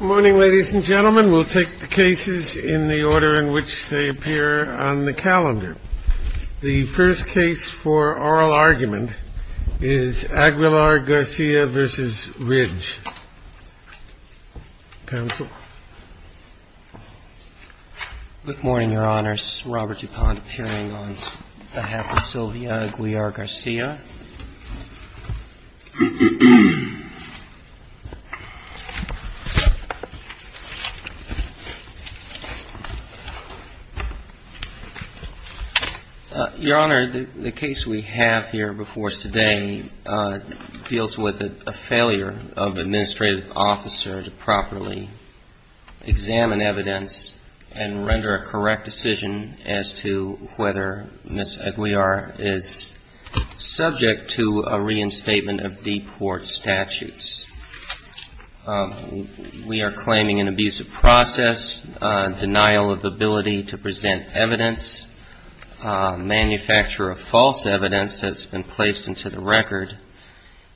Good morning, ladies and gentlemen. We'll take the cases in the order in which they are presented. The first case for oral argument is AGUILAR-GARCIA v. RIDGE. Counsel? Good morning, Your Honors. Robert DuPont appearing on behalf of Sylvia Aguilar-Garcia. Your Honor, the case we have here before us today deals with a failure of an administrative officer to properly examine evidence and render a correct decision as to whether Ms. Aguilar is subject to a reinstatement of deport statutes. We are claiming an abusive process, denial of ability to present evidence, manufacture of false evidence that's been placed into the record,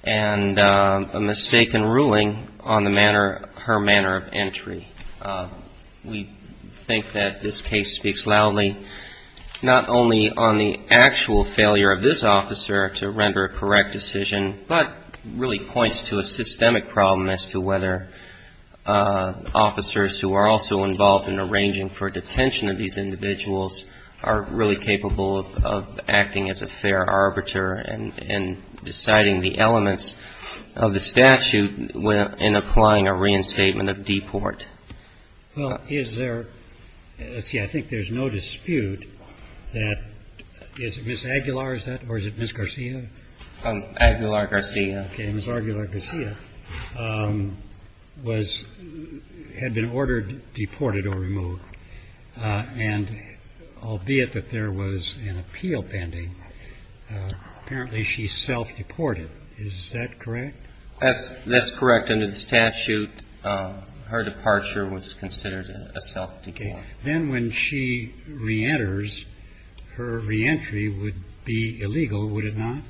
and a mistaken ruling on her manner of entry. We think that this case speaks loudly not only on the actual failure of this officer to render a correct decision, but really points to a systemic problem as to whether officers who are also involved in arranging for detention of these individuals are really capable of acting as a fair arbiter and deciding the elements of the statute in applying a reinstatement of deport. Well, is there – let's see. I think there's no dispute that – is it Ms. Aguilar, is that, or is it Ms. Garcia? Aguilar-Garcia. Okay. Ms. Aguilar-Garcia was – had been ordered deported or removed. And albeit that there was an appeal pending, apparently she self-deported. Is that correct? That's correct. Under the statute, her departure was considered a self-deport. Okay. Then when she reenters, her reentry would be illegal, would it not?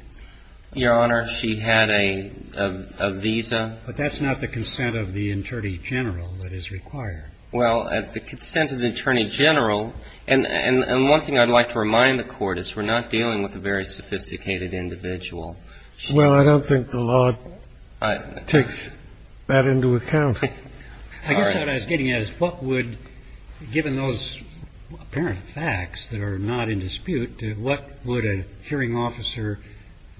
Your Honor, she had a visa. But that's not the consent of the attorney general that is required. Well, the consent of the attorney general – and one thing I'd like to remind the Court is we're not dealing with a very sophisticated individual. Well, I don't think the law takes that into account. I guess what I was getting at is what would – given those apparent facts that are not in dispute, what would a hearing officer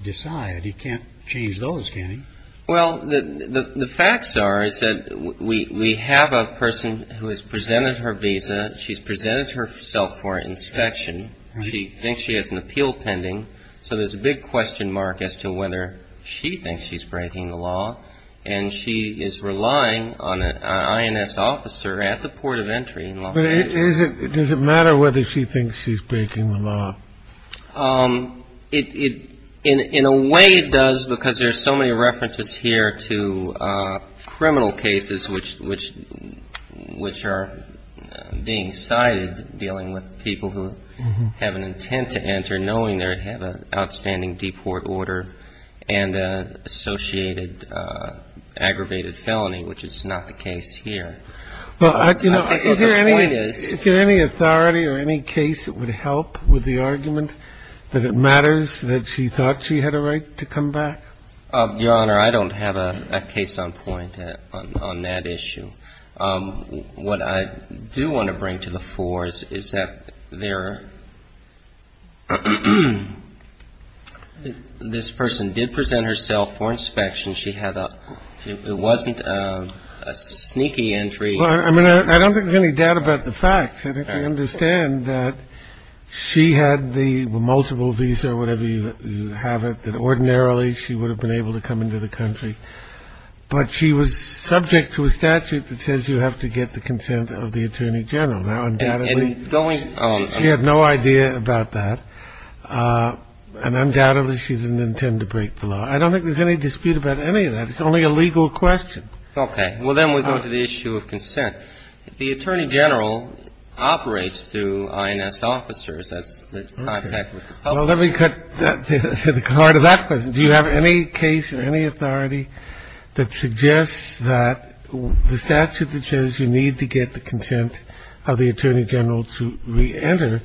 decide? He can't change those, can he? Well, the facts are is that we have a person who has presented her visa. She's presented herself for inspection. She thinks she has an appeal pending. So there's a big question mark as to whether she thinks she's breaking the law. And she is relying on an INS officer at the port of entry in Los Angeles. But is it – does it matter whether she thinks she's breaking the law? In a way, it does, because there's so many references here to criminal cases which are being cited, dealing with people who have an intent to enter, knowing they have an outstanding deport order and an associated aggravated felony, which is not the case here. Well, you know, I think the point is – Is there any authority or any case that would help with the argument that she's breaking the law? Is there any argument that it matters that she thought she had a right to come back? Your Honor, I don't have a case on point on that issue. What I do want to bring to the fore is that there – this person did present herself for inspection. She had a – it wasn't a sneaky entry. Well, I mean, I don't think there's any doubt about the facts. I think we understand that she had the multiple visa or whatever you have it, that ordinarily she would have been able to come into the country. But she was subject to a statute that says you have to get the consent of the attorney general. Now, undoubtedly, she had no idea about that, and undoubtedly she didn't intend to break the law. I don't think there's any dispute about any of that. It's only a legal question. Okay. Well, then we go to the issue of consent. The attorney general operates through INS officers. That's the contact with the public. Well, let me cut to the heart of that question. Do you have any case or any authority that suggests that the statute that says you need to get the consent of the attorney general to reenter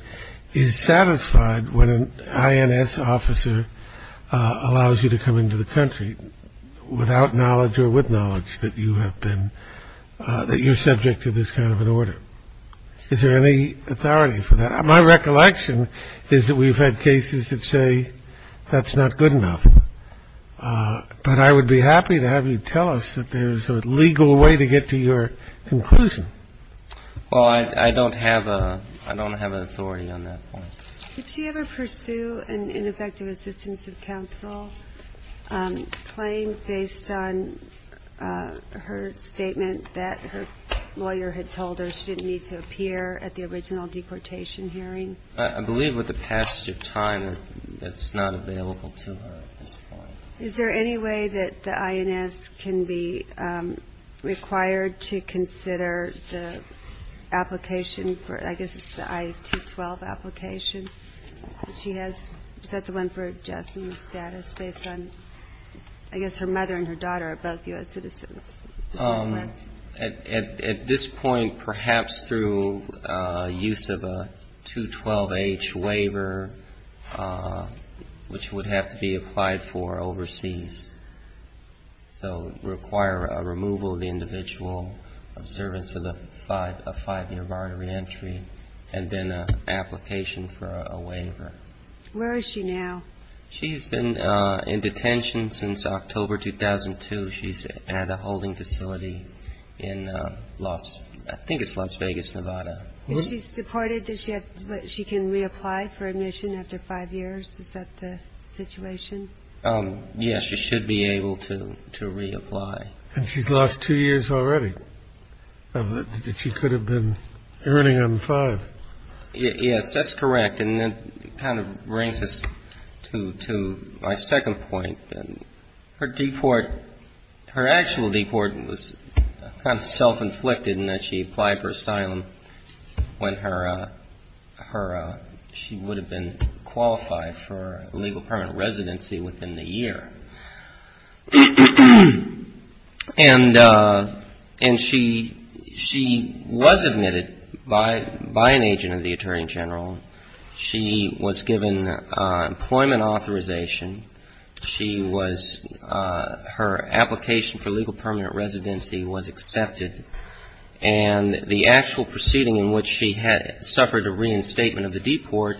is satisfied when an INS officer allows you to come into the country without knowledge or with knowledge that you have been that you're subject to this kind of an order? Is there any authority for that? My recollection is that we've had cases that say that's not good enough. But I would be happy to have you tell us that there is a legal way to get to your conclusion. Well, I don't have a I don't have an authority on that. Did she ever pursue an ineffective assistance of counsel claim based on her statement that her lawyer had told her she didn't need to appear at the original deportation hearing? I believe with the passage of time that's not available to her at this point. Is there any way that the INS can be required to consider the application for I guess it's the I-212 application that she has? Is that the one for adjustment status based on, I guess, her mother and her daughter are both U.S. citizens? At this point, perhaps through use of a 212H waiver, which would have to be applied for overseas. So it would require a removal of the individual of service of the five year bar of reentry and then an application for a waiver. Where is she now? She's been in detention since October 2002. She's at a holding facility in Los. I think it's Las Vegas, Nevada. She's deported. Does she have what she can reapply for admission after five years? Is that the situation? Yes, she should be able to to reapply. And she's lost two years already that she could have been earning on five. Yes, that's correct. And that kind of brings us to my second point. Her deport, her actual deport was kind of self-inflicted in that she applied for asylum when she would have been qualified for legal permanent residency within the year. And she was admitted by an agent of the attorney general. She was given employment authorization. She was, her application for legal permanent residency was accepted. And the actual proceeding in which she had suffered a reinstatement of the deport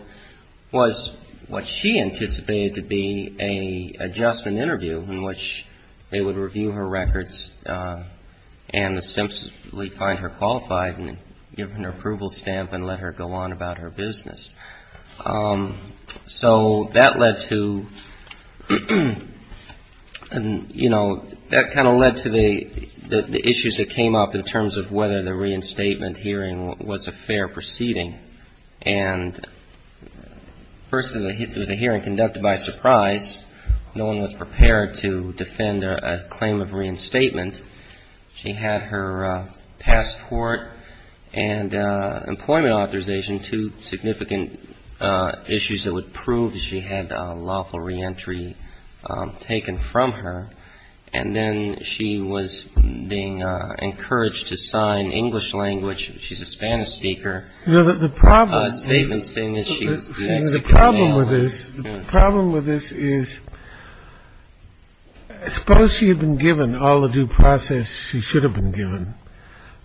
was what she anticipated to be a adjustment interview in which they would review her records and ostensibly find her qualified and give her an approval stamp and let her go on about her business. So that led to, you know, that kind of led to the issues that came up in terms of whether the reinstatement hearing was a fair proceeding. And first, it was a hearing conducted by surprise. No one was prepared to defend a claim of reinstatement. She had her passport and employment authorization, two significant issues that would prove that she had a lawful reentry taken from her. And then she was being encouraged to sign English language, she's a Spanish speaker, a statement stating that she would be executed now. This problem with this is suppose she had been given all the due process. She should have been given.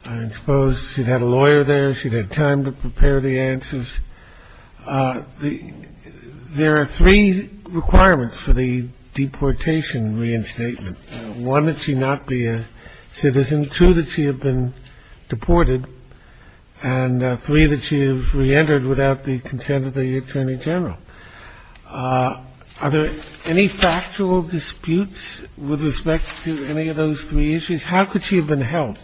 I suppose she'd had a lawyer there. She'd had time to prepare the answers. There are three requirements for the deportation reinstatement. One, that she not be a citizen, two, that she had been deported and three, that she reentered without the consent of the attorney general. Are there any factual disputes with respect to any of those three issues? How could she have been helped?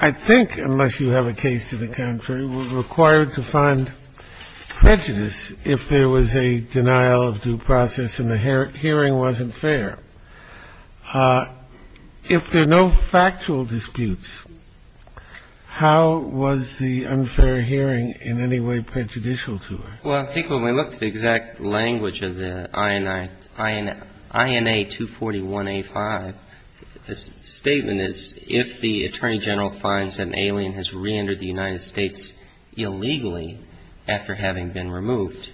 I think unless you have a case to the contrary, we're required to find prejudice if there was a denial of due process and the hearing wasn't fair. If there are no factual disputes, how was the unfair hearing in any way prejudicial to her? Well, I think when we looked at the exact language of the INA241A5, the statement is if the attorney general finds that an alien has reentered the United States illegally after having been removed.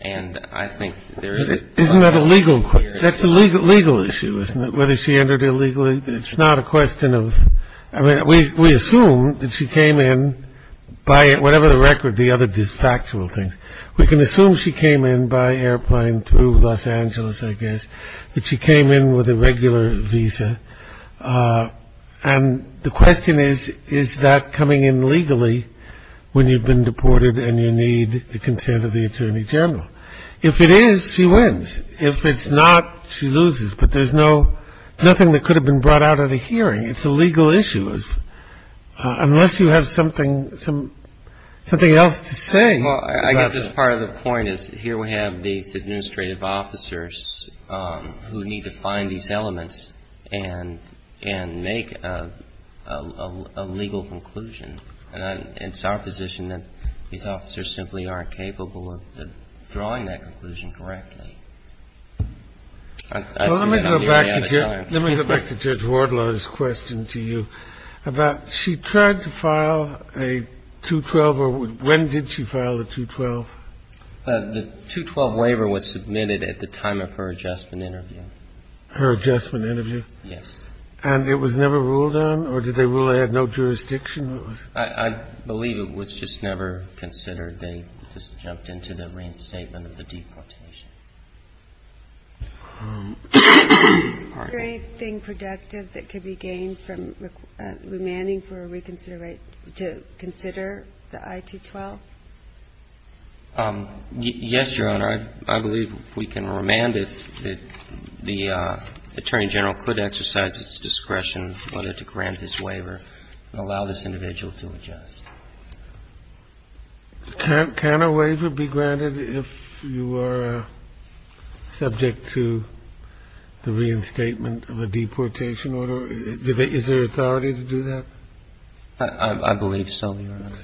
And I think there isn't that a legal that's a legal legal issue, isn't it? Whether she entered illegally. It's not a question of I mean, we assume that she came in by whatever the record, the other factual things we can assume she came in by airplane through Los Angeles, I guess. But she came in with a regular visa. And the question is, is that coming in legally when you've been deported and you need the consent of the attorney general? If it is, she wins. If it's not, she loses. But there's no nothing that could have been brought out of the hearing. It's a legal issue. Unless you have something some something else to say. Well, I guess that's part of the point is here we have these administrative officers who need to find these elements and and make a legal conclusion. And it's our position that these officers simply aren't capable of drawing that conclusion correctly. Let me go back to Judge Wardlaw's question to you about she tried to file a 212 or when did she file the 212? The 212 waiver was submitted at the time of her adjustment interview. Her adjustment interview? Yes. And it was never ruled on or did they rule they had no jurisdiction? I believe it was just never considered. They just jumped into the reinstatement of the deportation. Is there anything productive that could be gained from remanding for a reconsideration to consider the I-212? Yes, Your Honor. I believe we can remand if the Attorney General could exercise its discretion whether to grant his waiver and allow this individual to adjust. Can a waiver be granted if you are subject to the reinstatement of a deportation order? Is there authority to do that? I believe so, Your Honor.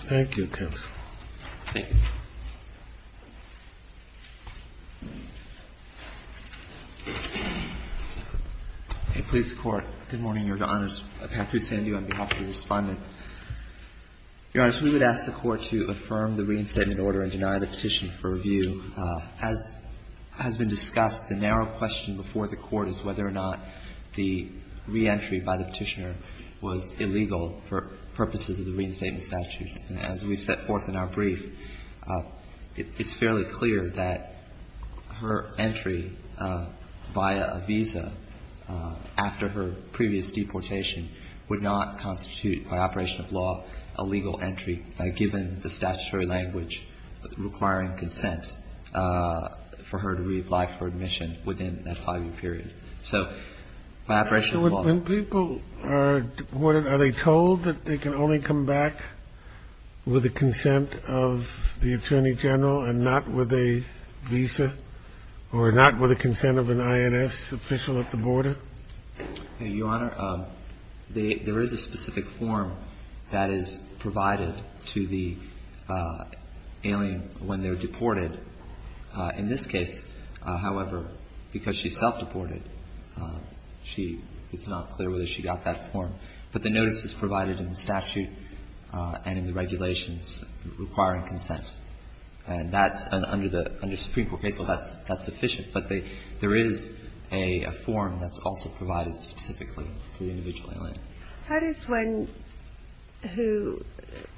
Thank you, counsel. Thank you. Please, Court. Good morning, Your Honor. Patrick Sandhu on behalf of the Respondent. Your Honor, we would ask the Court to affirm the reinstatement order and deny the petition for review. As has been discussed, the narrow question before the Court is whether or not the reentry by the Petitioner was illegal for purposes of the reinstatement statute. And as we've set forth in our brief, it's fairly clear that her entry via a visa after her previous deportation would not constitute, by operation of law, a legal entry, given the statutory language requiring consent for her to reapply for admission within that five-year period. So by operation of law ---- Are they told that they can only come back with a consent of the Attorney General and not with a visa or not with a consent of an INS official at the border? Your Honor, there is a specific form that is provided to the alien when they're deported. In this case, however, because she's self-deported, she ---- it's not clear whether she got that form. But the notice is provided in the statute and in the regulations requiring consent. And that's under the ---- under Supreme Court case law, that's sufficient. But there is a form that's also provided specifically to the individual alien. How does one who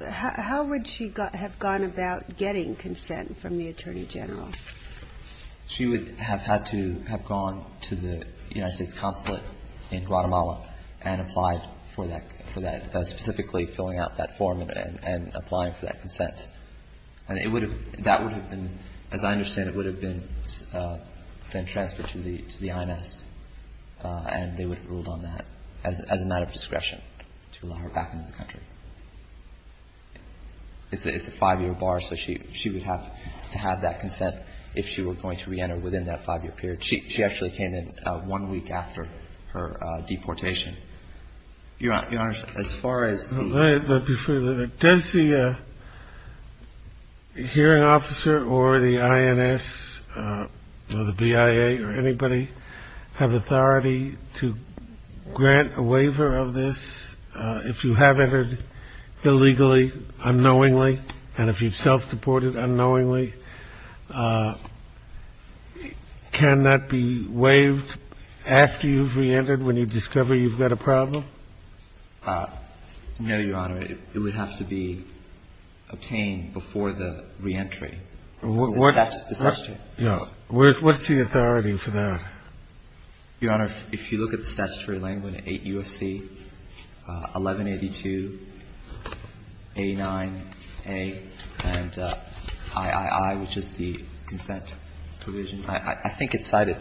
---- how would she have gone about getting consent from the Attorney General? She would have had to have gone to the United States consulate in Guatemala and applied for that, specifically filling out that form and applying for that consent. And it would have been ---- that would have been, as I understand it, would have been transferred to the INS, and they would have ruled on that as a matter of discretion to allow her back into the country. It's a five-year bar, so she would have to have that consent if she were going to reenter within that five-year period. She actually came in one week after her deportation. Your Honor, as far as ---- But before that, does the hearing officer or the INS or the BIA or anybody have authority to grant a waiver of this if you have entered illegally unknowingly and if you've self-deported unknowingly? Can that be waived after you've reentered when you discover you've got a problem? No, Your Honor. It would have to be obtained before the reentry. What's the authority for that? Your Honor, if you look at the statutory language, 8 U.S.C., 1182, 89A, and III, I think it's cited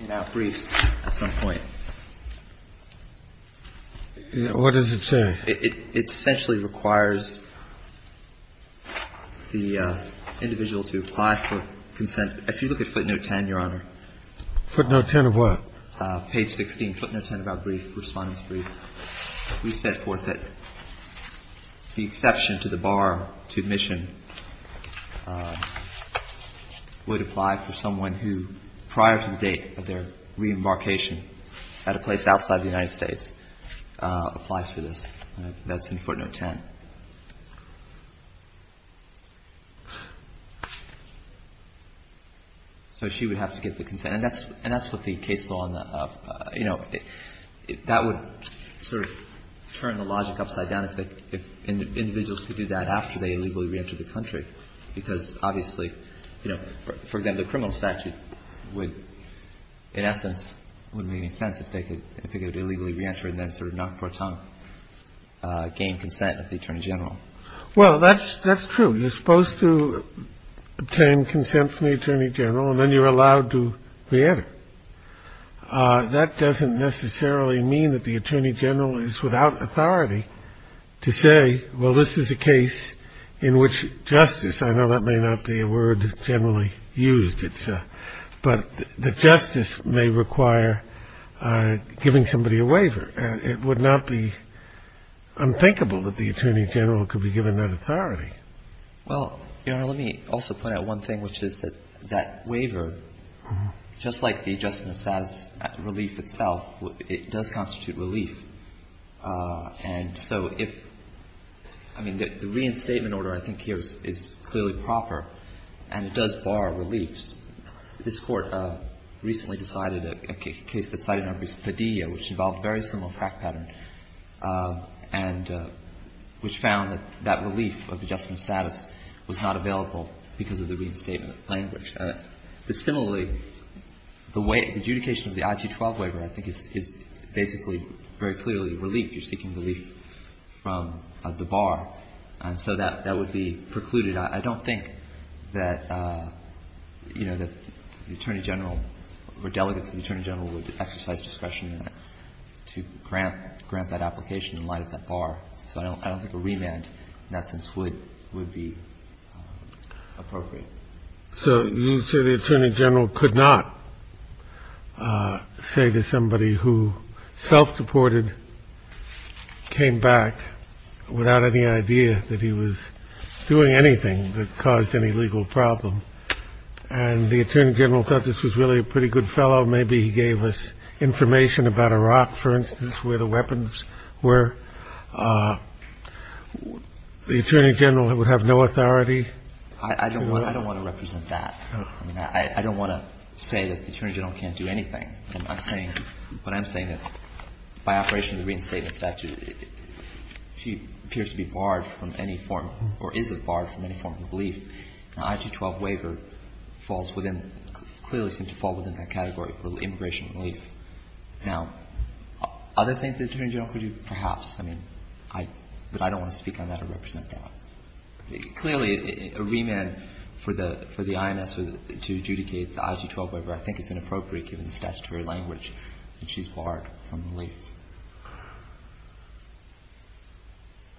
in our briefs at some point. What does it say? It essentially requires the individual to apply for consent. If you look at footnote 10, Your Honor. Footnote 10 of what? Page 16, footnote 10 of our brief, Respondent's brief. We set forth that the exception to the bar to admission would apply for someone who, prior to the date of their reembarkation at a place outside the United States, applies for this. That's in footnote 10. So she would have to get the consent. And that's what the case law, you know, that would sort of turn the logic upside down, if individuals could do that after they illegally reenter the country. Because, obviously, you know, for example, the criminal statute would, in essence, wouldn't make any sense if they could illegally reenter and then sort of knock before time gain consent of the Attorney General. Well, that's true. You're supposed to obtain consent from the Attorney General and then you're allowed to reenter. That doesn't necessarily mean that the Attorney General is without authority to say, well, this is a case in which justice I know that may not be a word generally used. But the justice may require giving somebody a waiver. And it would not be unthinkable that the Attorney General could be given that authority. Well, Your Honor, let me also point out one thing, which is that that waiver, just like the adjustment of status relief itself, it does constitute relief. And so if the reinstatement order I think here is clearly proper and it does bar reliefs, this Court recently decided a case that cited under Padilla, which involved a very similar crack pattern, and which found that that relief of adjustment status was not available because of the reinstatement language. Similarly, the adjudication of the IG-12 waiver, I think, is basically very clearly relief. You're seeking relief from the bar. And so that would be precluded. I don't think that, you know, that the Attorney General or delegates of the Attorney General would exercise discretion to grant that application in light of that bar. So I don't think a remand in that sense would be appropriate. So you say the Attorney General could not say to somebody who self-deported, came back without any idea that he was doing anything that caused any legal problem. And the Attorney General thought this was really a pretty good fellow. Maybe he gave us information about Iraq, for instance, where the weapons were. The Attorney General would have no authority? I don't want to represent that. I mean, I don't want to say that the Attorney General can't do anything. I'm saying that by operation of the reinstatement statute, she appears to be barred from any form or is barred from any form of relief. Now, IG-12 waiver falls within, clearly seems to fall within that category for immigration relief. Now, other things the Attorney General could do, perhaps. I mean, but I don't want to speak on that or represent that. Clearly, a remand for the IMS to adjudicate the IG-12 waiver, I think, is inappropriate given the statutory language, and she's barred from relief.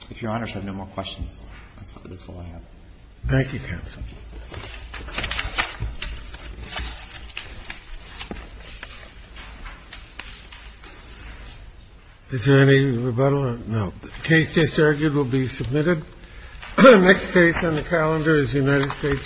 If Your Honors have no more questions, that's all I have. Thank you, counsel. Thank you. Is there any rebuttal? No. The case just argued will be submitted. Next case on the calendar is United States v. Guzman.